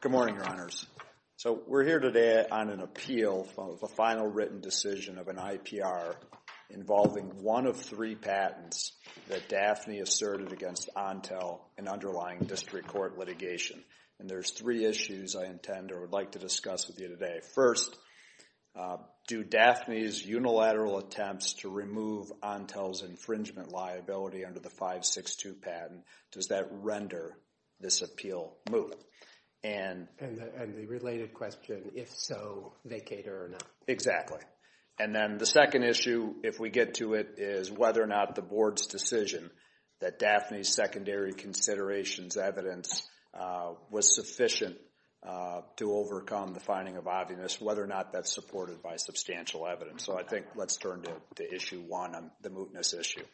Good morning, Your Honors. So, we're here today on an appeal of a final written decision of an IPR involving one of three patents that Daphne asserted against Ontel in underlying district court litigation. And there's three issues I intend or would like to discuss with infringement liability under the 562 patent. Does that render this appeal moot? And the related question, if so, vacate or not? Exactly. And then the second issue, if we get to it, is whether or not the board's decision that Daphne's secondary considerations evidence was sufficient to overcome the finding of obviousness, whether or not that's supported by substantial evidence. So, I think let's turn to issue one, the mootness issue.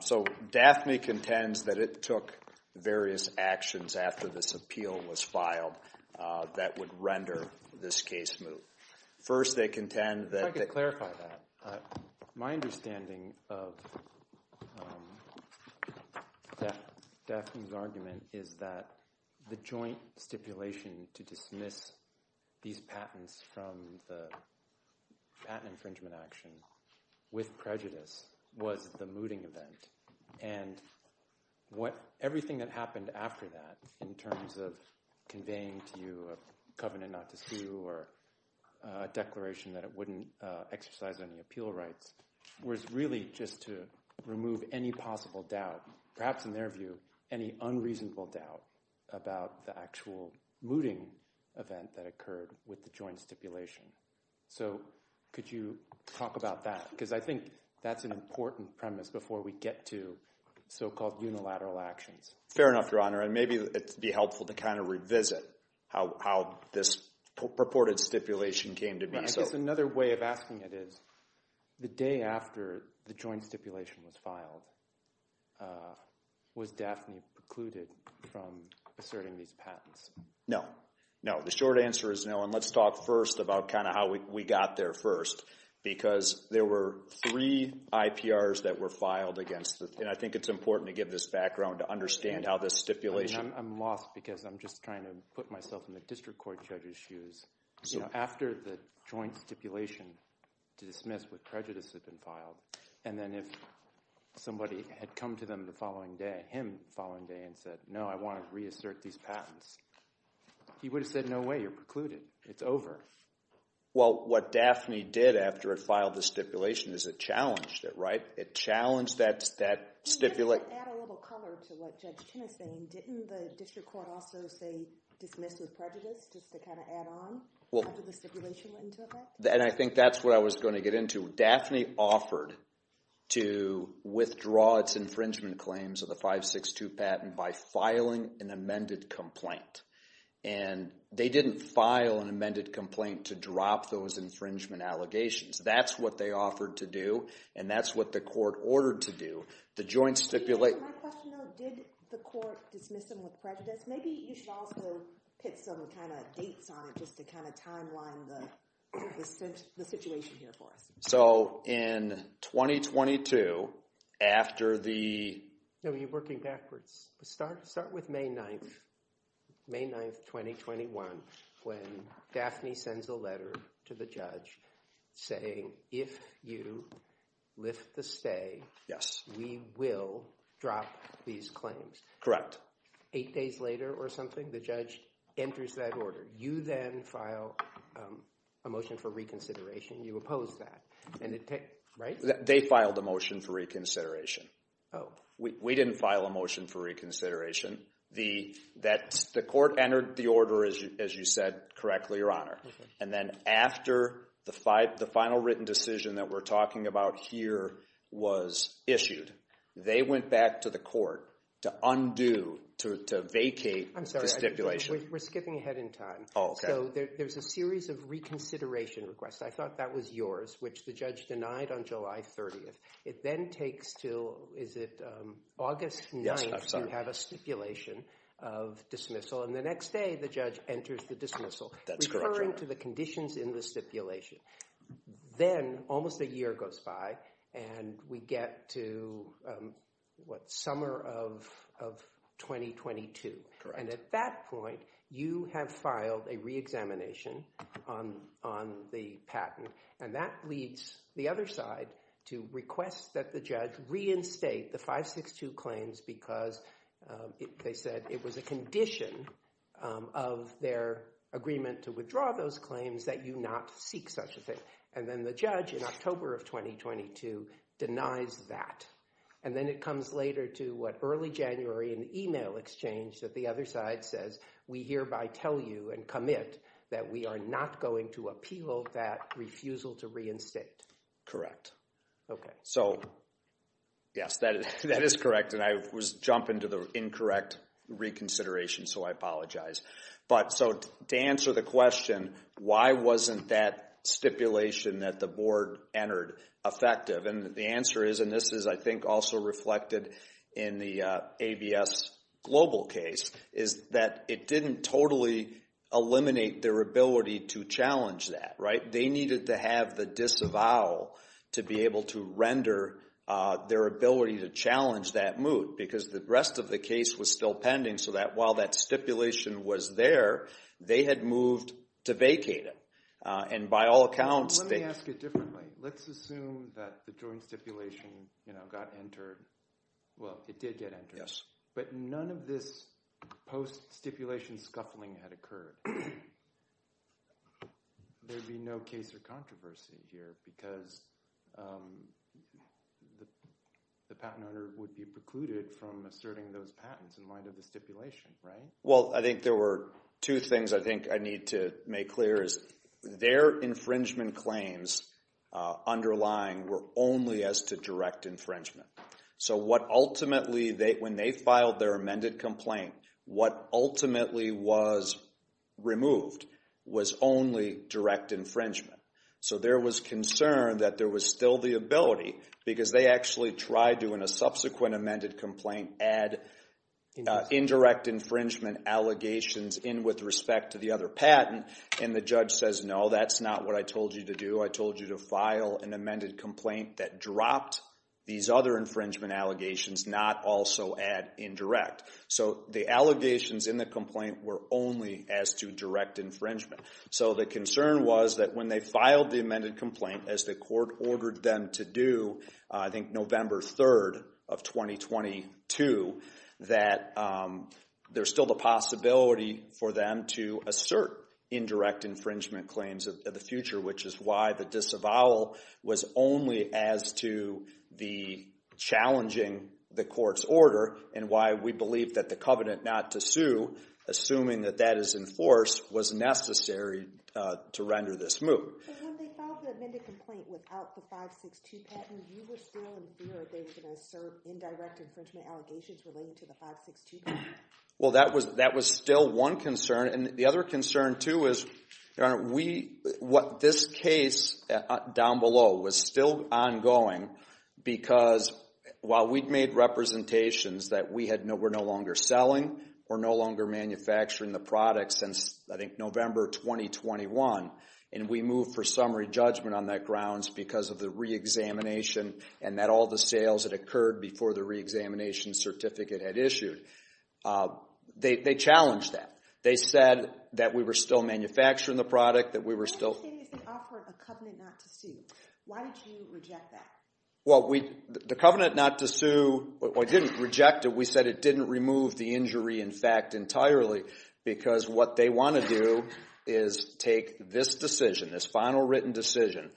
So, Daphne contends that it took various actions after this appeal was filed that would render this case moot. First, they contend that... If I could clarify that. My understanding of Daphne's argument is that the joint stipulation to dismiss these patents from the patent infringement action with prejudice was the mooting event. And everything that happened after that, in terms of conveying to you a covenant not to sue or a declaration that it wouldn't exercise any appeal rights, was really just to remove any possible doubt, perhaps in their view, any unreasonable doubt about the actual mooting event that occurred with the joint stipulation. So, could you talk about that? Because I think that's an important premise before we get to so-called unilateral actions. Fair enough, Your Honor. And maybe it'd be helpful to kind of revisit how this purported stipulation came to be. I guess another way of asking it is, the day after the joint stipulation was filed, was Daphne precluded from asserting these patents? No. No. The short answer is no. And let's talk first about kind of how we got there first. Because there were three IPRs that were filed against... And I think it's important to give this background to understand how this stipulation... I'm lost because I'm just trying to put myself in the district court judge's shoes. So, after the joint stipulation to dismiss with prejudice had been filed, and then if somebody had come to them the following day, him the following day, and said, no, I want to reassert these patents, he would have said, no way, you're precluded. It's over. Well, what Daphne did after it filed the stipulation is it challenged it, right? It challenged that stipulation... Can you add a little color to what Judge Chin is saying? Didn't the district court also say dismiss with prejudice, just to kind of add on after the stipulation went into effect? And I think that's what I was going to get into. Daphne offered to withdraw its infringement claims of the 562 patent by filing an amended complaint. And they didn't file an amended complaint to drop those infringement allegations. That's what they offered to do, and that's what the court ordered to do. The joint stipulation... My question though, did the court dismiss them with prejudice? Maybe you should also put some kind of dates on it just to kind of timeline the situation here for us. So in 2022, after the... No, you're working backwards. Start with May 9th, May 9th, 2021, when Daphne sends a letter to the judge saying, if you lift the stay, we will drop these claims. Correct. Eight days later or something, the judge enters that order. You then file a motion for reconsideration. You oppose that, right? They filed a motion for reconsideration. We didn't file a motion for reconsideration. The court entered the order, as you said correctly, Your Honor. And then after the final written decision that we're talking about here was issued, they went back to the court to undo, to vacate the stipulation. I'm sorry, we're skipping ahead in time. Oh, okay. So there's a series of reconsideration requests. I thought that was yours, which the judge denied on July 30th. It then takes till, is it August 9th? Yes, I'm sorry. You have a stipulation of dismissal, and the next day the judge enters the dismissal. That's correct, Your Honor. Then we get to the conditions in the stipulation. Then almost a year goes by, and we get to what, summer of 2022. And at that point, you have filed a re-examination on the patent. And that leads the other side to request that the judge reinstate the 562 claims because they said it was a condition of their agreement to withdraw those claims that you not seek such a thing. And then the judge in October of 2022 denies that. And then it comes later to what, early January, an email exchange that the other side says, we hereby tell you and commit that we are not going to appeal that refusal to reinstate. Correct. Okay. So yes, that is correct. And I was going to jump into the incorrect reconsideration, so I apologize. But so to answer the question, why wasn't that stipulation that the board entered effective? And the answer is, and this is I think also reflected in the ABS global case, is that it didn't totally eliminate their ability to challenge that, right? They needed to have the disavowal to be able to render their ability to challenge that moot because the rest of the case was still pending so that while that stipulation was there, they had moved to vacate it. And by all accounts... Let me ask it differently. Let's assume that the joint stipulation, you know, got entered. Well, it did get entered. Yes. But none of this post stipulation scuffling had occurred. There'd be no case or controversy here because the patent owner would be precluded from asserting those patents in light of the stipulation, right? Well, I think there were two things I think I need to make clear is their infringement claims underlying were only as to direct infringement. So what ultimately, when they filed their amended complaint, what ultimately was removed was only direct infringement. So there was concern that there was still the ability because they actually tried doing a subsequent amended complaint, add indirect infringement allegations in with respect to the other patent and the judge says, no, that's not what I told you to do. I told you to file an amended complaint that dropped these other infringement allegations, not also add indirect. So the allegations in the complaint were only as to direct infringement. So the concern was that when they filed the amended complaint, as the court ordered them to do, I think November 3rd of 2022, that there's still the possibility for them to assert indirect infringement claims of the future, which is why the disavowal was only as to the challenging the court's order and why we believe that the covenant not to sue, assuming that that is enforced, was necessary to render this move. When they filed the amended complaint without the 562 patent, you were still in fear they were going to assert indirect infringement allegations relating to the 562 patent? Well, that was still one concern. And the other concern too is, Your Honor, what this case down below was still ongoing because while we'd made representations that we're no longer selling, we're no longer manufacturing the product since, I think, November 2021. And we moved for summary judgment on that grounds because of the re-examination and that all the sales that occurred before the re-examination certificate had issued. They challenged that. They said that we were still manufacturing the product, that we were still... Why did you say they offered a covenant not to sue? Why did you reject that? Well, the covenant not to sue... Well, I didn't reject it. We said it didn't remove the injury in fact entirely because what they want to do is take this decision, this final written decision,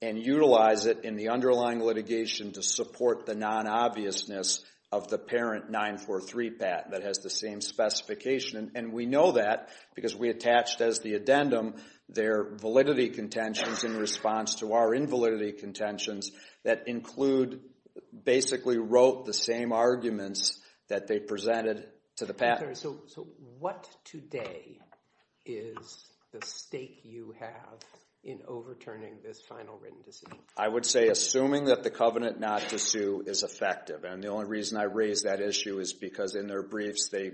and utilize it in the underlying litigation to support the non-obviousness of the parent 943 patent that has the same specification. And we know that because we attached as the addendum their validity contentions in response to our invalidity contentions that include, basically wrote the same arguments that they presented to the patent. So what today is the stake you have in overturning this final written decision? I would say assuming that the covenant not to sue is effective. And the only reason I raised that issue is because in their briefs, they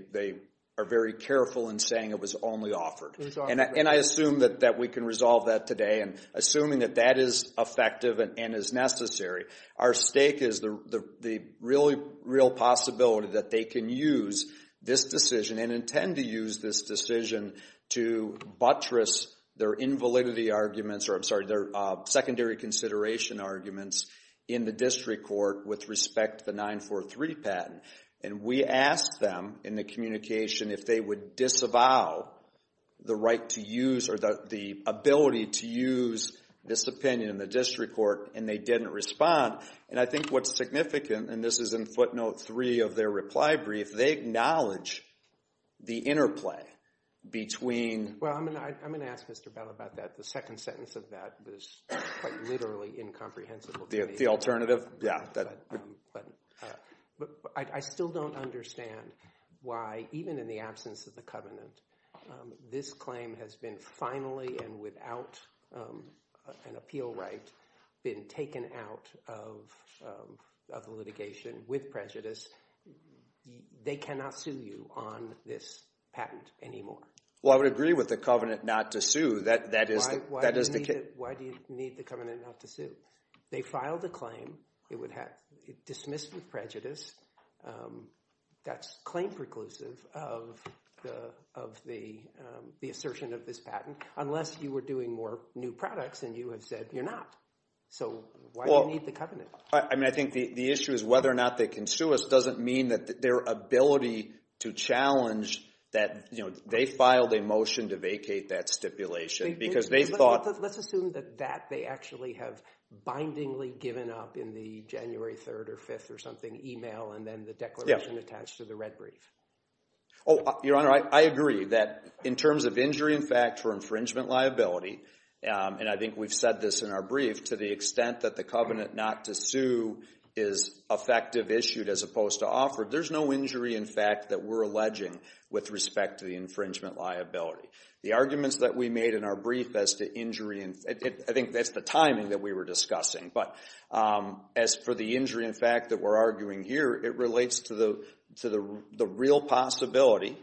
are very careful in saying it was only offered. And I assume that we can resolve that today. And assuming that that is effective and is necessary, our stake is the real possibility that they can use this decision and intend to use this decision to buttress their invalidity arguments, or I'm sorry, their secondary consideration arguments in the district court with respect to the 943 patent. And we asked them in the communication if they would disavow the right to use, or the ability to use this opinion in the district court, and they didn't respond. And I think what's significant, and this is in footnote three of their reply brief, they acknowledge the interplay between. Well, I'm going to ask Mr. Bell about that. The second sentence of that was quite literally incomprehensible. The alternative? Yeah. But I still don't understand why, even in the absence of the covenant, this claim has been finally, and without an appeal right, been taken out of the litigation with prejudice. They cannot sue you on this patent anymore. Well, I would agree with the covenant not to sue. That is the case. Why do you need the covenant not to sue? They filed a claim. It dismissed with prejudice. That's claim preclusive of the assertion of this patent, unless you were doing more new products and you had said you're not. So why do you need the covenant? I mean, I think the issue is whether or not they can sue us doesn't mean that their ability to challenge that, you know, they filed a motion to vacate that stipulation because they thought... Let's assume that that they actually have bindingly given up in the January 3rd or 5th or something email and then the declaration attached to the red brief. Oh, Your Honor, I agree that in terms of injury in fact for infringement liability, and I think we've said this in our brief, to the extent that the covenant not to sue is effective issued as opposed to offered, there's no injury in fact that we're alleging with respect to the infringement liability. The arguments that we made in our brief as to injury, I think that's the timing that we were discussing, but as for the injury in fact that we're arguing here, it relates to the real possibility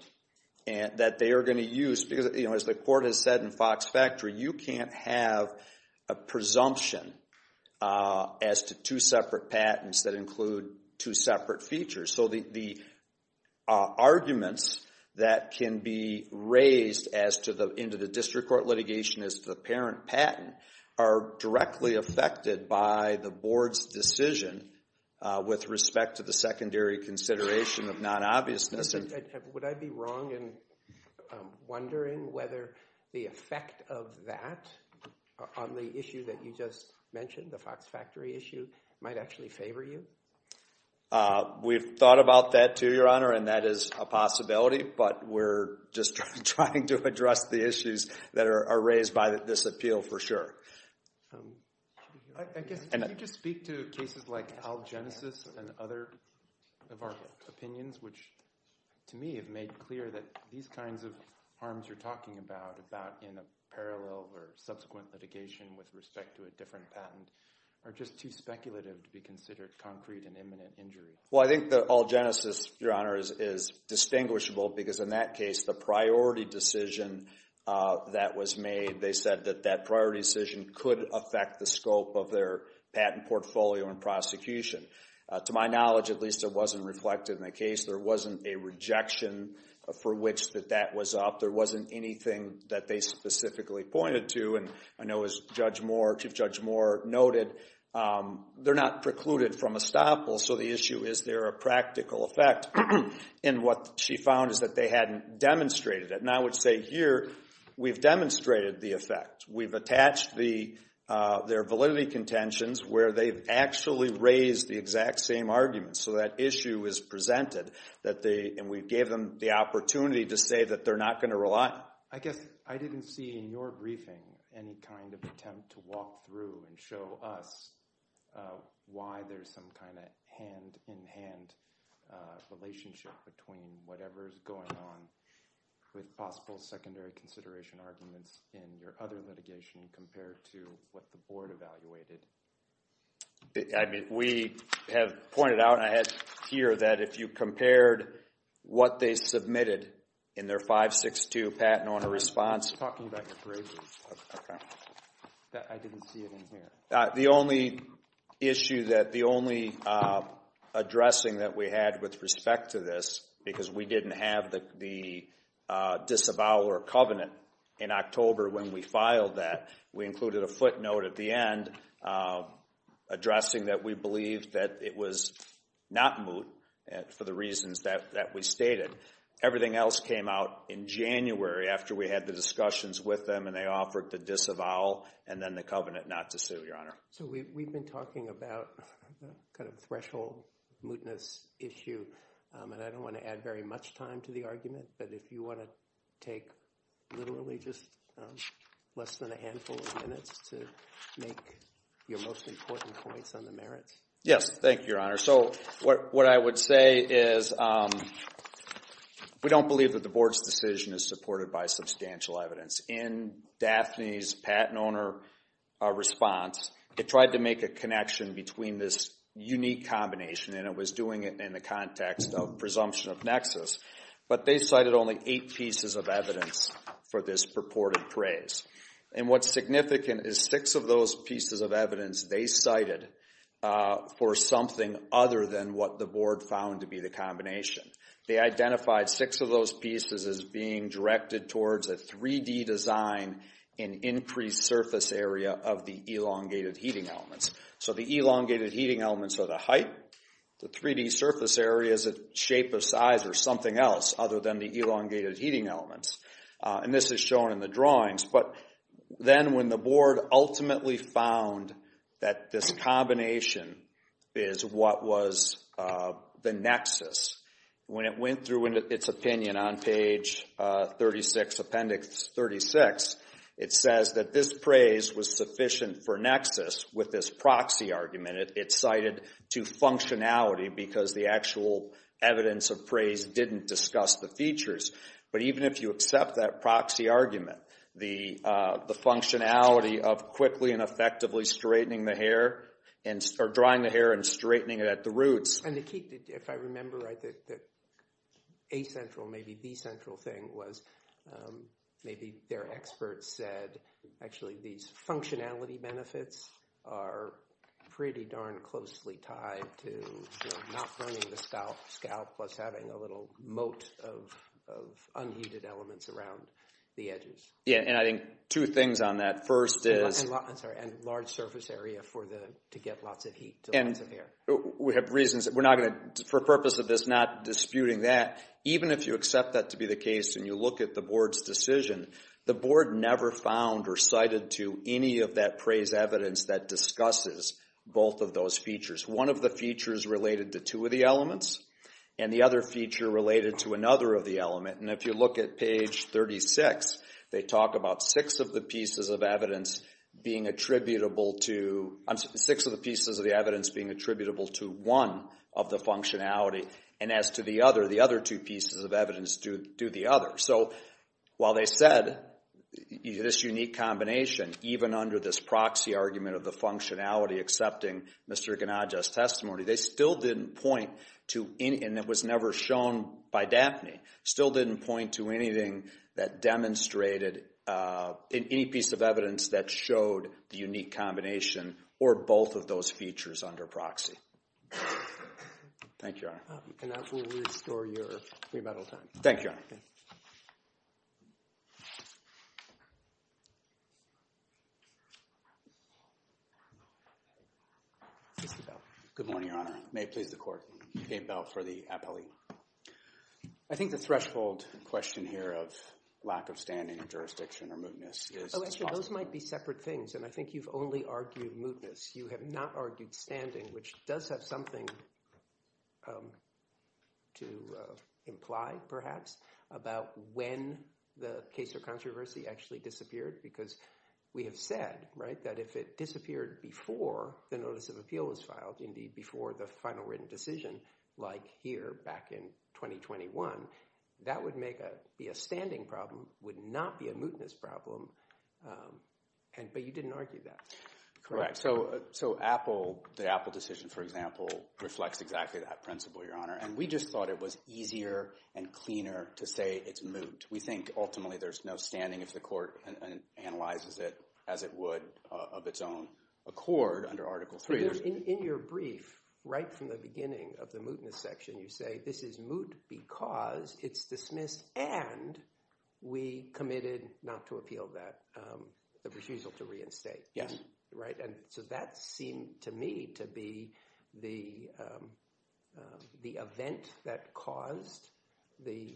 that they are going to use because as the court has said in Fox Factory, you can't have a presumption as to two separate patents that include two separate features. So the arguments that can be patent are directly affected by the board's decision with respect to the secondary consideration of non-obviousness. Would I be wrong in wondering whether the effect of that on the issue that you just mentioned, the Fox Factory issue, might actually favor you? We've thought about that too, Your Honor, and that is a possibility, but we're just trying to address the issues that are raised by this appeal for sure. I guess, did you just speak to cases like Algenesis and other of our opinions, which to me have made clear that these kinds of harms you're talking about, about in a parallel or subsequent litigation with respect to a different patent, are just too speculative to be considered concrete and imminent injury? Well, I think that Algenesis, Your Honor, is distinguishable because in that case, the priority decision that was made, they said that that priority decision could affect the scope of their patent portfolio and prosecution. To my knowledge, at least it wasn't reflected in the case. There wasn't a rejection for which that that was up. There wasn't anything that they specifically pointed to. And I know as Chief Judge Moore noted, they're not precluded from estoppel, so the issue is there a practical effect. And what she found is that they hadn't demonstrated it. And I would say here, we've demonstrated the effect. We've attached their validity contentions where they've actually raised the exact same argument. So that issue is presented that they, and we gave them the opportunity to say that they're not going to rely. I guess I didn't see in your briefing any kind of attempt to walk through and show us why there's some kind of hand-in-hand relationship between whatever's going on with possible secondary consideration arguments in your other litigation compared to what the board evaluated. I mean, we have pointed out and I had here that if you compared what they submitted in their 562 patent on a response. You're talking about your bravery. Okay. I didn't see it in here. The only issue that, the only addressing that we had with respect to this, because we didn't have the disavowal or covenant in October when we filed that, we included a footnote at the end addressing that we believe that it was not moot for the reasons that we stated. Everything else came out in January after we had the discussions with them and they offered the disavowal and then the covenant not to sue, Your Honor. So we've been talking about kind of threshold mootness issue and I don't want to add very much time to the argument, but if you want to take literally just less than a handful of minutes to make your most important points on the merits. Yes. Thank you, Your Honor. So what I would say is we don't believe that the board's decision is supported by substantial evidence. In Daphne's patent owner response, they tried to make a connection between this unique combination, and it was doing it in the context of presumption of nexus, but they cited only eight pieces of evidence for this purported praise. And what's significant is six of those pieces of evidence they cited for something other than what the board found to be the combination. They identified six of those pieces as being directed towards a 3D design in increased surface area of the elongated heating elements. So the elongated heating elements are the height, the 3D surface area is a shape of size or something else other than the elongated heating elements. And this is shown in the drawings, but then when the board ultimately found that this combination is what was the nexus, when it went through its opinion on page 36, appendix 36, it says that this praise was sufficient for nexus with this proxy argument. It's cited to functionality because the actual evidence of praise didn't discuss the features. But even if you accept that proxy argument, the functionality of quickly and effectively straightening the hair, or drying the hair and straightening it at the roots. And to keep, if I remember right, that A central, maybe B central thing was maybe their experts said actually these functionality benefits are pretty darn closely tied to not burning the scalp plus having a little moat of unheated elements around the edges. Yeah, and I think two things on that. First is... I'm sorry, and large surface area for the, to get lots of heat to lots of hair. We have reasons, we're not going to, for purpose of this not disputing that, even if you accept that to be the case and you look at the board's decision, the board never found or cited to any of that praise evidence that discusses both of those features. One of the features related to two of the elements and the other feature related to another of the element. And if you look at page 36, they talk about six of the pieces of evidence being attributable to, six of the pieces of the evidence being attributable to one of the functionality. And as to the other, the other two pieces of evidence do the other. So while they said this unique combination, even under this proxy argument of the functionality accepting Mr. Ganadja's testimony, they still didn't point to, and it was never shown by DAPNE, still didn't point to anything that demonstrated, any piece of evidence that showed the unique combination or both of those features under proxy. Thank you, Your Honor. And that will restore your remittal time. Thank you, Your Honor. Mr. Bell. Good morning, Your Honor. May it please the court. Dave Bell for the appellee. I think the threshold question here of lack of standing in jurisdiction or mootness is— Oh, actually, those might be separate things. And I think you've only argued mootness. You have not argued standing, which does have something to imply, perhaps, about when the case of controversy actually disappeared. Because we have said, right, if it disappeared before the notice of appeal was filed, indeed, before the final written decision, like here back in 2021, that would make a, be a standing problem, would not be a mootness problem. But you didn't argue that. Correct. So, so Apple, the Apple decision, for example, reflects exactly that principle, Your Honor. And we just thought it was easier and cleaner to say it's moot. We think ultimately there's no standing if the court analyzes it as it would of its own accord under Article III. In your brief, right from the beginning of the mootness section, you say this is moot because it's dismissed and we committed not to appeal that, the refusal to reinstate. Yes. Right. And so that seemed to me to be the, the event that caused the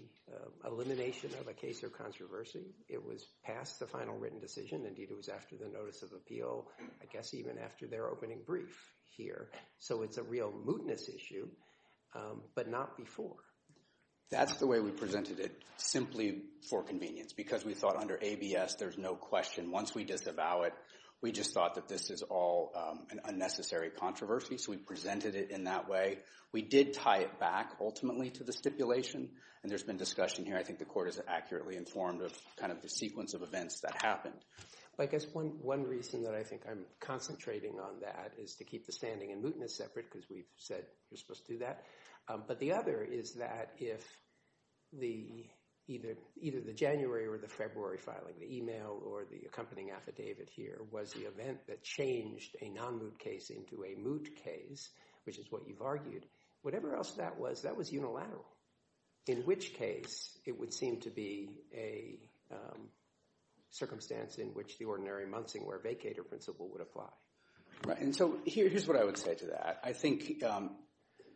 elimination of a case of controversy. It was past the final written decision. Indeed, it was after the notice of appeal, I guess, even after their opening brief here. So it's a real mootness issue, but not before. That's the way we presented it, simply for convenience, because we thought under ABS, there's no question. Once we disavow it, we just thought that this is all an unnecessary controversy. So we presented it in that way. We did tie it back, ultimately, to the stipulation. And there's been discussion here. I think the court is accurately informed of kind of the sequence of events that happened. I guess one, one reason that I think I'm concentrating on that is to keep the standing and mootness separate because we've said you're supposed to do that. But the other is that if the either, either the January or the February filing, the email or the accompanying affidavit here was the event that changed a non-moot case into a moot case, which is what you've argued, whatever else that was, that was unilateral. In which case, it would seem to be a circumstance in which the ordinary Munsingwear vacator principle would apply. And so here, here's what I would say to that. I think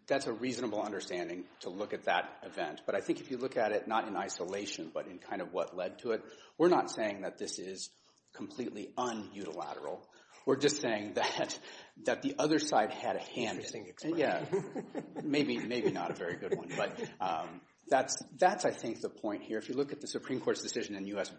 that's a reasonable understanding to look at that event. But I think if you look at it, not in isolation, but in kind of what led to it, we're not saying that this is completely un-utilateral. We're just saying that, that the other side had a hand in it. Yeah. Maybe, maybe not a very good one. But that's, that's I think the point here. If you look at the Supreme Court's decision in U.S.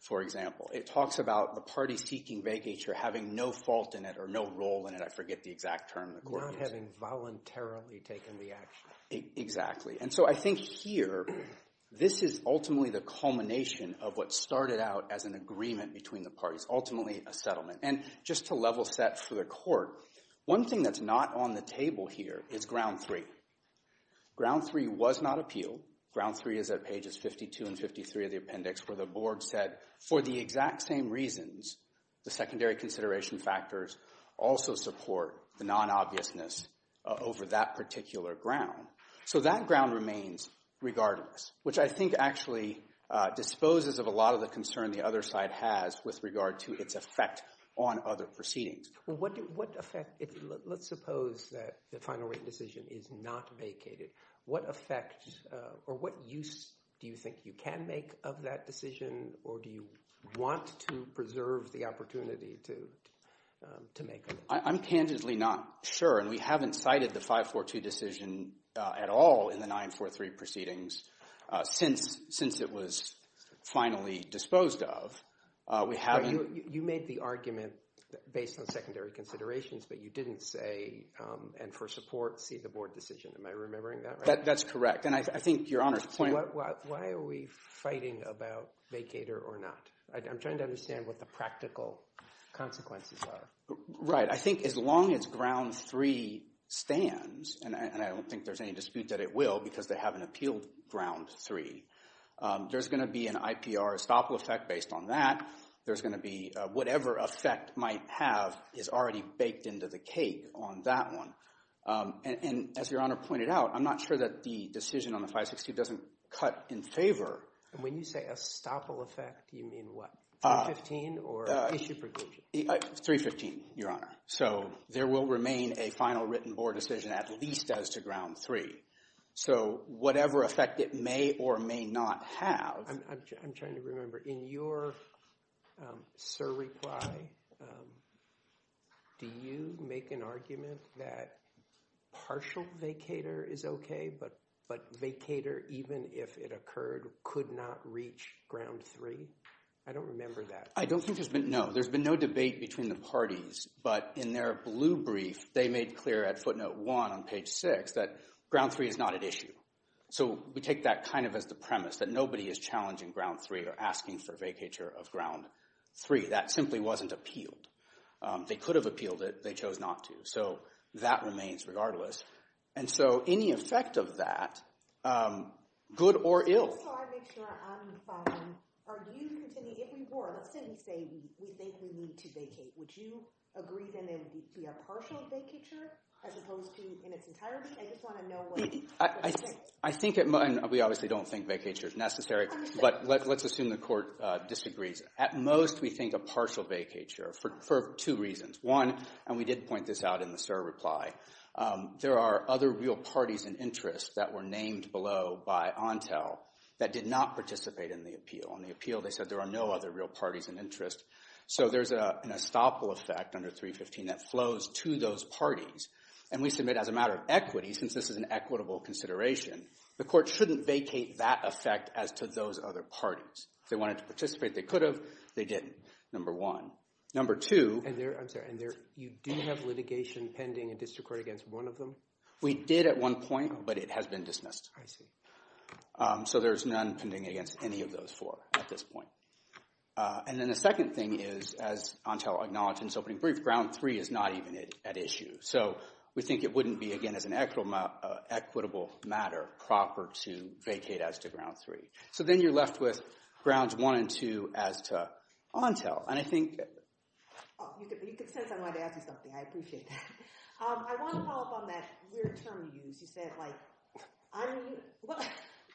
for example, it talks about the parties seeking vacature having no fault in it or no role in it. I forget the exact term in the court. Not having voluntarily taken the action. Exactly. And so I think here, this is ultimately the culmination of what started out as an agreement between the parties, ultimately a settlement. And just to level set for the court, one thing that's not on the table here is ground three. Ground three was not appealed. Ground three is at pages 52 and 53 of the appendix where the board said, for the exact same reasons, the secondary consideration factors also support the non-obviousness over that particular ground. So that ground remains regardless, which I think actually disposes of a lot of the concern the other side has with regard to its effect on other proceedings. Well, what effect, let's suppose that the final written decision is not vacated. What effect or what use do you think you can make of that decision? Or do you want to preserve the opportunity to make it? I'm candidly not sure. And we haven't cited the 542 decision at all in the 943 proceedings since it was finally disposed of. We haven't. You made the argument based on secondary considerations, but you didn't say, and for support, see the board decision. Am I remembering that right? That's correct. And I think Your Honor's point... Why are we fighting about vacater or not? I'm trying to understand what the practical consequences are. Right. I think as long as ground three stands, and I don't think there's any dispute that it will because they haven't appealed ground three, there's going to be an IPR estoppel effect based on that. There's going to be whatever effect might have is already baked into the cake on that one. And as Your Honor pointed out, I'm not sure that the decision on the 562 doesn't cut in favor. And when you say estoppel effect, you mean what, 315 or issue provision? 315, Your Honor. So there will remain a final written board decision at least as to ground three. So whatever effect it may or may not have... I'm trying to remember, in your surreply, do you make an argument that partial vacater is okay, but vacater, even if it occurred, could not reach ground three? I don't remember that. I don't think there's been... No, there's been no debate between the parties. But in their blue brief, they made clear at footnote one on page six that ground three is not at issue. So we take that kind of as the premise that nobody is challenging ground three or asking for vacature of ground three. That simply wasn't appealed. They could have appealed it. They chose not to. So that remains regardless. And so any effect of that, good or ill... Just so I make sure I'm following, if we were, let's say we think we need to vacate, would you agree that it would be a partial vacature as opposed to in its entirety? I just want to know what... We obviously don't think vacature is necessary, but let's assume the court disagrees. At most, we think a partial vacature for two reasons. One, and we did point this out in the surreply, there are other real parties and interests that were named below by Ontel that did not participate in the appeal. On the appeal, they said there are no other real parties and interests. So there's an estoppel effect under 315 that flows to those parties. And we submit as a matter of equity, since this is an equitable consideration, the court shouldn't vacate that effect as to those other parties. If they wanted to participate, they could have. They didn't, number one. Number two... I'm sorry. And you do have litigation pending in district court against one of them? We did at one point, but it has been dismissed. I see. So there's none pending against any of those four at this point. And then the second thing is, as Ontel acknowledged in its opening brief, ground three is not even at issue. So we think it wouldn't be, again, as an equitable matter proper to vacate as to ground three. So then you're left with grounds one and two as to Ontel. And I think... You could sense I wanted to ask you something. I appreciate that. I want to follow up on that weird term you used. You said, like,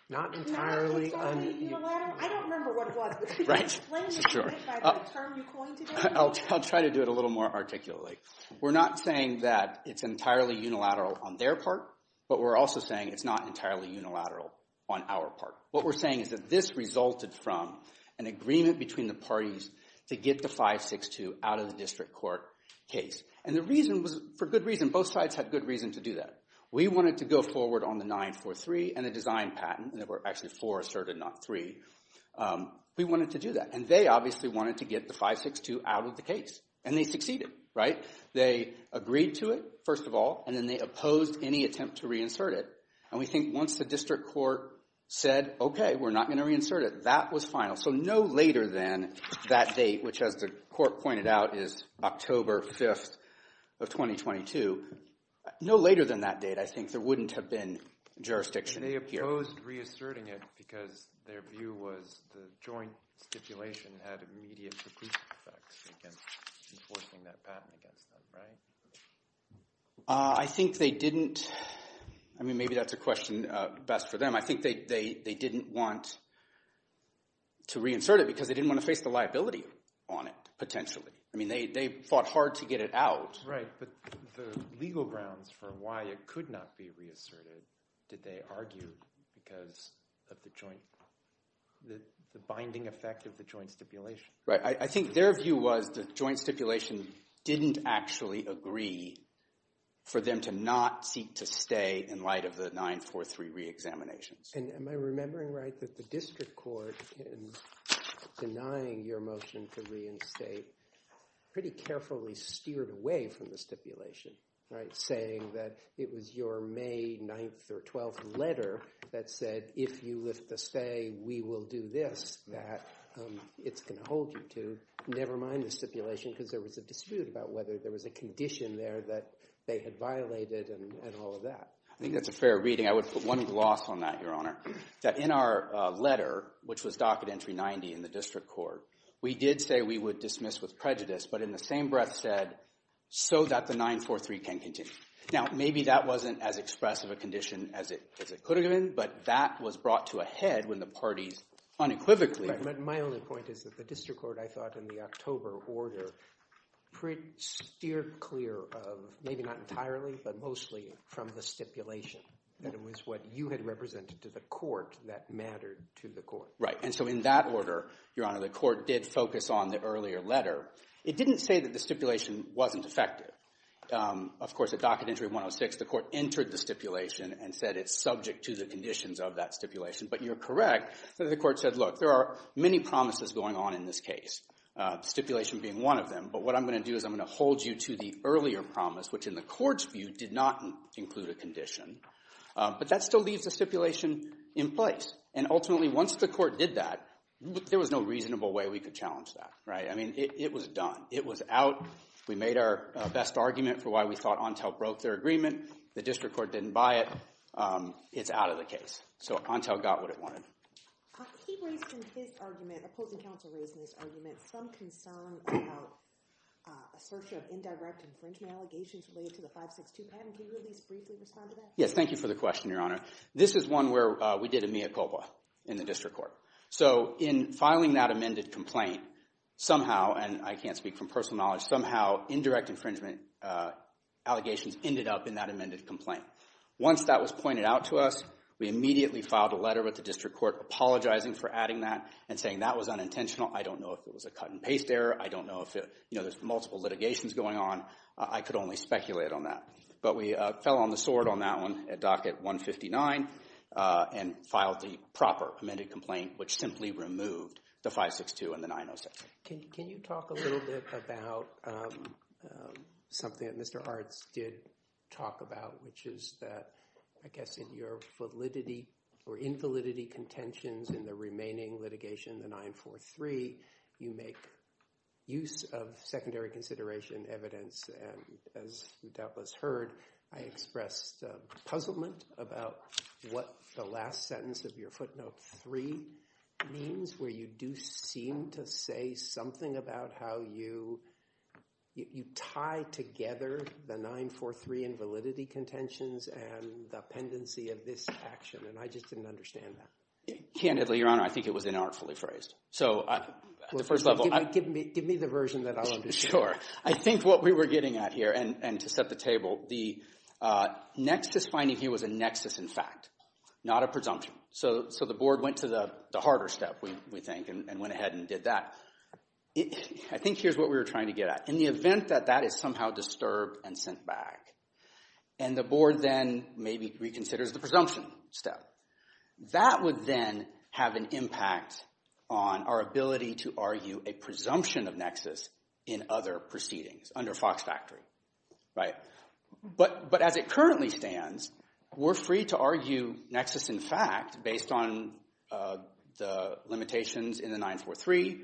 not entirely... I don't remember what it was, but could you explain to me what term you coined today? I'll try to do it a little more articulately. We're not saying that it's entirely unilateral on their part, but we're also saying it's not entirely unilateral on our part. What we're saying is that this resulted from an agreement between the parties to get the 562 out of the district court case. And the reason was, for good reason, both sides had good reason to do that. We wanted to go forward on the 943 and the design patent, and there were actually four asserted, not three. We wanted to do that. And they obviously wanted to get the 562 out of the case. And they succeeded, right? They agreed to it, first of all, and then they opposed any attempt to reinsert it. And we think once the district court said, okay, we're not going to reinsert it, that was final. So no later than that date, which, as the court pointed out, is October 5th of 2022. No later than that date, I think, there wouldn't have been jurisdiction here. They opposed reasserting it because their view was the joint stipulation had immediate effects against enforcing that patent against them, right? I think they didn't. I mean, maybe that's a question best for them. I think they didn't want to reinsert it because they didn't want to face the liability on it, potentially. I mean, they fought hard to get it out. Right. But the legal grounds for why it could not be reasserted, did they argue because of the binding effect of the joint stipulation? Right. I think their view was the joint stipulation didn't actually agree for them to not seek to stay in light of the 943 reexaminations. And am I remembering right that the district court in denying your motion to pretty carefully steered away from the stipulation, right, saying that it was your May 9th or 12th letter that said, if you lift the stay, we will do this, that it's going to hold you to, never mind the stipulation, because there was a dispute about whether there was a condition there that they had violated and all of that. I think that's a fair reading. I would put one gloss on that, Your Honor, that in our letter, which was docket entry 90 in the district court, we did say we would dismiss with prejudice, but in the same breath said, so that the 943 can continue. Now, maybe that wasn't as expressive a condition as it could have been, but that was brought to a head when the parties unequivocally. My only point is that the district court, I thought in the October order, pretty steered clear of, maybe not entirely, but mostly from the stipulation, that it was what you had represented to the court that mattered to the court. Right. And so in that order, Your Honor, the court did focus on the earlier letter. It didn't say that the stipulation wasn't effective. Of course, at docket entry 106, the court entered the stipulation and said it's subject to the conditions of that stipulation, but you're correct that the court said, look, there are many promises going on in this case, stipulation being one of them, but what I'm going to do is I'm going to hold you to the earlier promise, which in the court's view did not include a condition, but that still leaves a stipulation in place. And ultimately, once the court did that, there was no reasonable way we could challenge that. Right. I mean, it was done. It was out. We made our best argument for why we thought Ontel broke their agreement. The district court didn't buy it. It's out of the case. So Ontel got what it wanted. He raised in his argument, opposing counsel raised in this argument, some concern about assertion of indirect infringement allegations related to the 562 respond to that. Yes. Thank you for the question, Your Honor. This is one where we did a mea culpa in the district court. So in filing that amended complaint somehow, and I can't speak from personal knowledge, somehow indirect infringement allegations ended up in that amended complaint. Once that was pointed out to us, we immediately filed a letter with the district court apologizing for adding that and saying that was unintentional. I don't know if it was a cut and paste error. I don't know if, you know, there's multiple litigations going on. I could only speculate on that. But we fell on the sword on that one at docket 159 and filed the proper amended complaint, which simply removed the 562 and the 906. Can you talk a little bit about something that Mr. Arts did talk about, which is that, I guess, in your validity or invalidity contentions in the I expressed puzzlement about what the last sentence of your footnote three means, where you do seem to say something about how you tie together the 943 invalidity contentions and the pendency of this action. And I just didn't understand that. Candidly, Your Honor, I think it was inartfully phrased. So at the first level, give me the version that I'll understand. Sure. I think what we were getting at here, and to set the table, the nexus finding here was a nexus in fact, not a presumption. So the board went to the harder step, we think, and went ahead and did that. I think here's what we were trying to get at. In the event that that is somehow disturbed and sent back, and the board then maybe reconsiders the presumption step, that would then have an impact on our ability to argue a proceeding under Fox Factory, right? But as it currently stands, we're free to argue nexus in fact based on the limitations in the 943,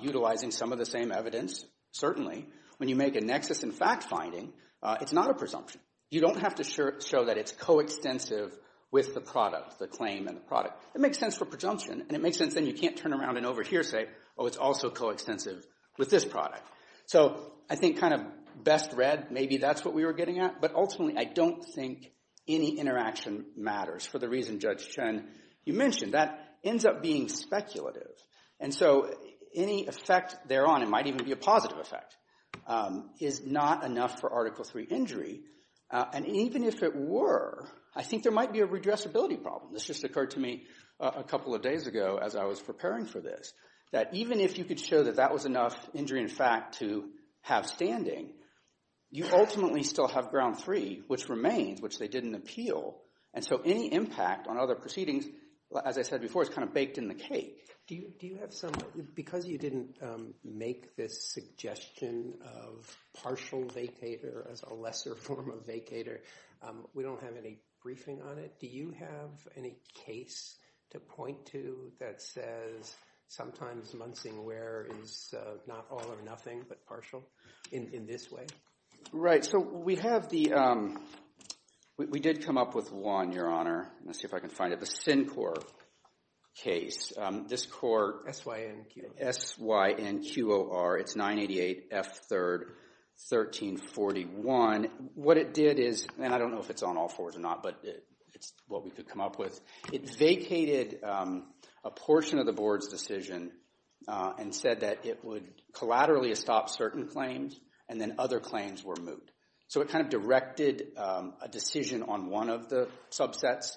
utilizing some of the same evidence, certainly. When you make a nexus in fact finding, it's not a presumption. You don't have to show that it's coextensive with the product, the claim and the product. It makes sense for presumption, and it makes sense then you can't turn around and over here say, oh, it's also coextensive with this product. So I think kind of best read, maybe that's what we were getting at, but ultimately I don't think any interaction matters for the reason Judge Chen, you mentioned, that ends up being speculative. And so any effect thereon, it might even be a positive effect, is not enough for Article III injury. And even if it were, I think there might be a redressability problem. This just occurred to me a couple of days ago as I was preparing for this, that even if you could show that that was enough injury in fact to have standing, you ultimately still have ground three, which remains, which they didn't appeal. And so any impact on other proceedings, as I said before, is kind of baked in the cake. Do you have some, because you didn't make this suggestion of partial vacator as a lesser form of vacator, we don't have any briefing on it, do you have any case to point to that says sometimes Munsing wear is not all or nothing, but partial in this way? Right. So we have the, we did come up with one, Your Honor. Let's see if I can find it. The Syncor case. This court, SYNQOR, it's 988 F3rd 1341. What it did is, and I don't know if it's on all fours or not, but it's what we could come up with. It vacated a portion of the board's decision and said that it would collaterally stop certain claims and then other claims were moot. So it kind of directed a decision on one of the subsets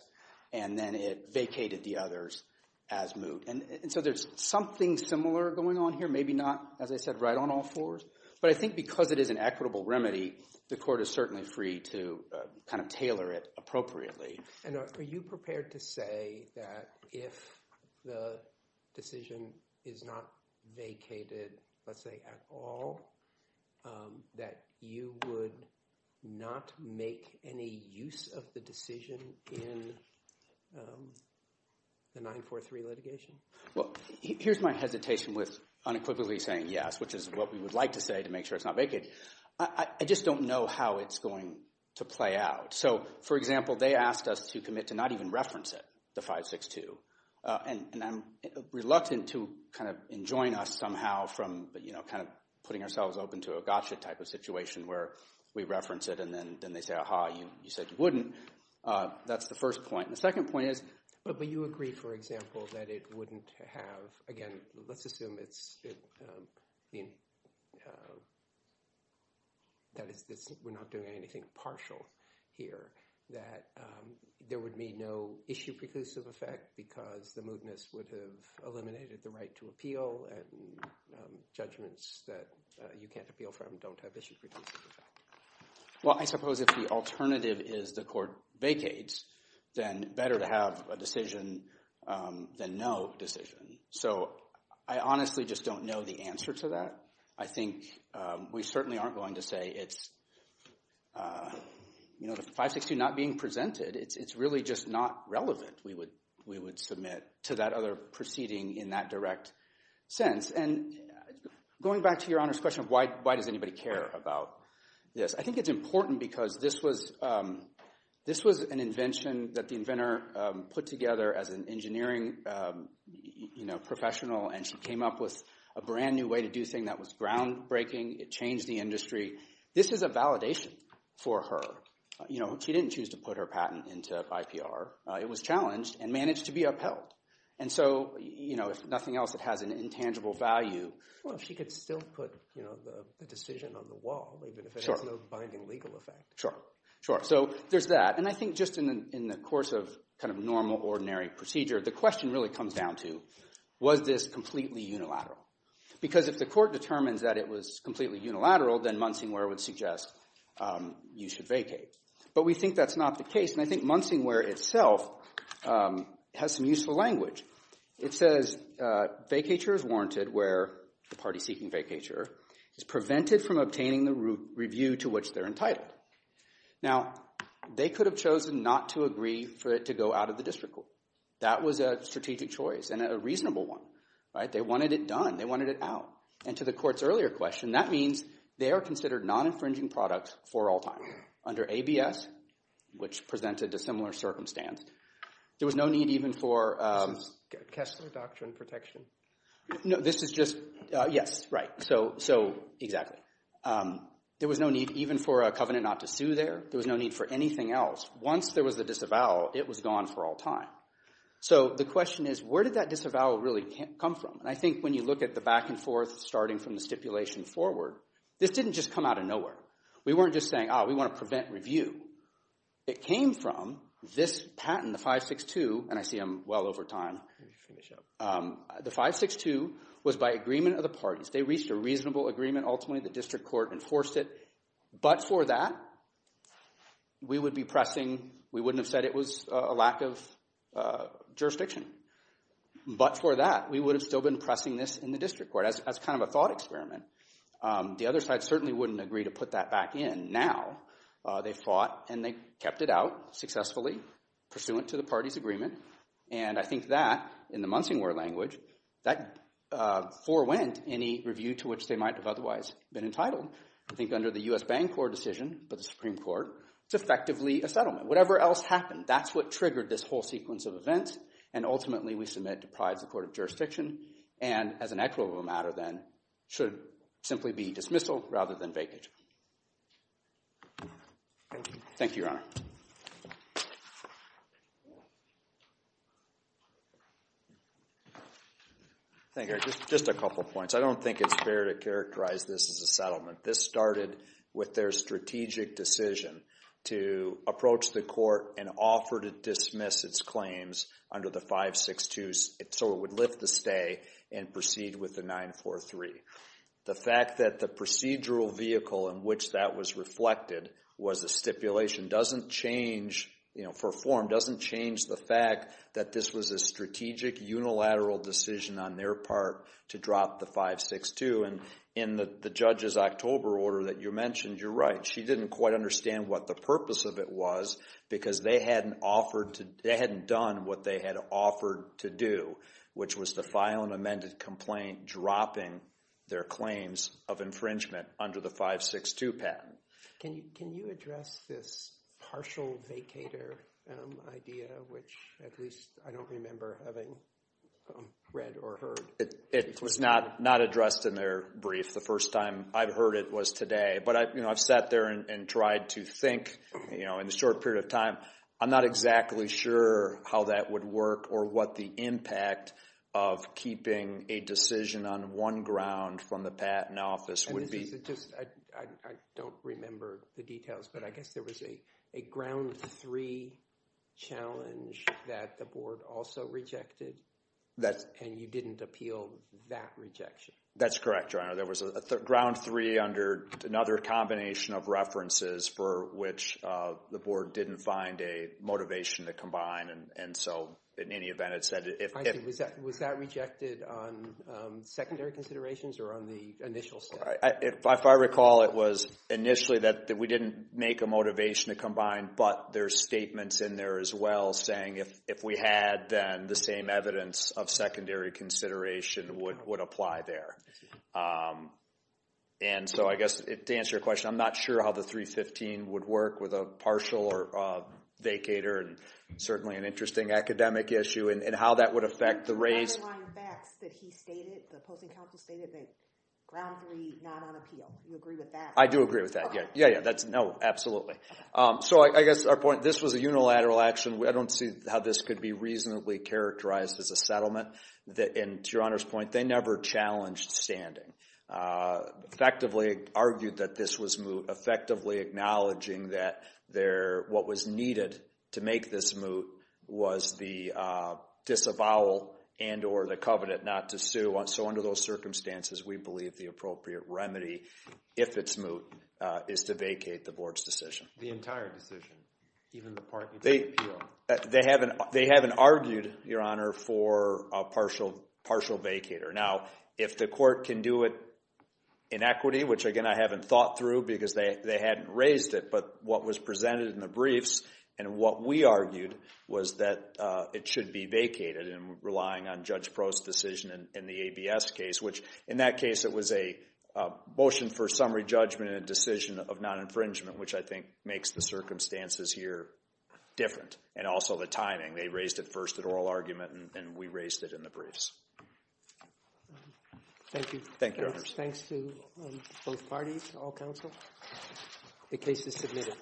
and then it vacated the others as moot. And so there's something similar going on here, maybe not, as I said, right on all fours. But I think because it is an equitable remedy, the court is certainly free to kind of tailor it appropriately. And are you prepared to say that if the decision is not vacated, let's say at all, that you would not make any use of the decision in the 943 litigation? Well, here's my hesitation with unequivocally saying yes, which is what we would like to say to make sure it's not vacated. I just don't know how it's going to play out. So, for example, they asked us to commit to not even reference it, the 562. And I'm reluctant to kind of enjoin us somehow from, you know, kind of putting ourselves open to a gotcha type of situation where we reference it and then they say, aha, you said you wouldn't. That's the first point. The second point is... But you agree, for example, that it is... That we're not doing anything partial here, that there would be no issue-preclusive effect because the mootness would have eliminated the right to appeal and judgments that you can't appeal from don't have issue-preclusive effect. Well, I suppose if the alternative is the court vacates, then better to have a decision than no decision. So I honestly just don't know the we certainly aren't going to say it's... You know, the 562 not being presented, it's really just not relevant, we would submit to that other proceeding in that direct sense. And going back to Your Honor's question of why does anybody care about this, I think it's important because this was an invention that the inventor put together as an engineering professional and she came up with a brand new way to do things that was groundbreaking. It changed the industry. This is a validation for her. You know, she didn't choose to put her patent into IPR. It was challenged and managed to be upheld. And so, you know, if nothing else, it has an intangible value. Well, if she could still put, you know, the decision on the wall, even if it has no binding legal effect. Sure, sure. So there's that. And I think just in the course of kind of normal, ordinary procedure, the question really comes down to was this completely unilateral? Because if the court determines that it was completely unilateral, then Munsingware would suggest you should vacate. But we think that's not the case. And I think Munsingware itself has some useful language. It says vacature is warranted where the party seeking vacature is prevented from obtaining the review to which they're entitled. Now, they could have chosen not to agree for it to go out of the district court. That was a strategic choice and a reasonable one, right? They wanted it done. They wanted it out. And to the court's earlier question, that means they are considered non-infringing products for all time under ABS, which presented a similar circumstance. There was no need even for... Kessler Doctrine protection. No, this is just... Yes, right. So, exactly. There was no need even for a covenant not to sue there. There was no need for anything else. Once there was the disavowal, it was gone for all time. So, the question is, where did that disavowal really come from? And I think when you look at the back and forth starting from the stipulation forward, this didn't just come out of nowhere. We weren't just saying, oh, we want to prevent review. It came from this patent, the 562, and I see I'm well over time. The 562 was by agreement of the parties. They reached a reasonable agreement. Ultimately, the district court enforced it. But for that, we would be jurisdiction. But for that, we would have still been pressing this in the district court. That's kind of a thought experiment. The other side certainly wouldn't agree to put that back in. Now, they fought and they kept it out successfully pursuant to the party's agreement. And I think that, in the Munsingwar language, that forewent any review to which they might have otherwise been entitled. I think under the U.S. Bancorp decision for the Supreme Court, it's effectively a settlement. Whatever else happened, that's what triggered this whole sequence of events. And ultimately, we submit to pride as a court of jurisdiction. And as an actual matter, then, should simply be dismissal rather than vacate. Thank you, Your Honor. Thank you. Just a couple of points. I don't think it's fair to characterize this as a settlement. This started with their strategic decision to approach the court and offer to dismiss its claims under the 562 so it would lift the stay and proceed with the 943. The fact that the procedural vehicle in which that was reflected was a stipulation doesn't change, you know, for form, doesn't change the fact that this was a strategic unilateral decision on their part to drop the 562. And in the judge's October order that you mentioned, you're right. She didn't quite understand what the purpose of it was because they hadn't done what they had offered to do, which was to file an amended complaint dropping their claims of infringement under the 562 patent. Can you address this partial vacator idea, which at least I don't remember having read or heard? It was not addressed in their brief. The first time I've heard it was today. But, you know, I've sat there and tried to think, you know, in the short period of time. I'm not exactly sure how that would work or what the impact of keeping a decision on one ground from the patent office would be. I don't remember the details, but I guess there was a ground three challenge that the board also rejected. And you didn't appeal that rejection. That's correct, Your Honor. There was a ground three under another combination of references for which the board didn't find a motivation to combine. And so, in any event, it said... I see. Was that rejected on secondary considerations or on the initial step? If I recall, it was initially that we didn't make a motivation to combine, but there's statements in there as well saying if we had, then the same evidence of secondary consideration would apply there. And so, I guess, to answer your question, I'm not sure how the 315 would work with a partial vacator and certainly an interesting academic issue and how that would affect the race. The underlying facts that he stated, the opposing counsel stated, that ground three not on appeal. Do you agree with that? I do agree with that. Yeah, yeah. No, absolutely. So, I guess our point, this was a unilateral action. I don't see how this could be reasonably characterized as a settlement. And to Your Honor's point, they never challenged standing. Effectively argued that this was moot. Effectively acknowledging that what was needed to make this moot was the disavowal and or the covenant not to sue. So, under those circumstances, we believe the appropriate remedy, if it's moot, is to vacate the board's decision. The entire decision, even the part that's on appeal? They haven't argued, Your Honor, for a partial vacator. Now, if the court can do it in equity, which again, I haven't thought through because they hadn't raised it, but what was presented in the briefs and what we argued was that it should be vacated and relying on Judge in the ABS case, which in that case, it was a motion for summary judgment and decision of non-infringement, which I think makes the circumstances here different and also the timing. They raised it first at oral argument and we raised it in the briefs. Thank you. Thanks to both parties, all counsel. The case is submitted.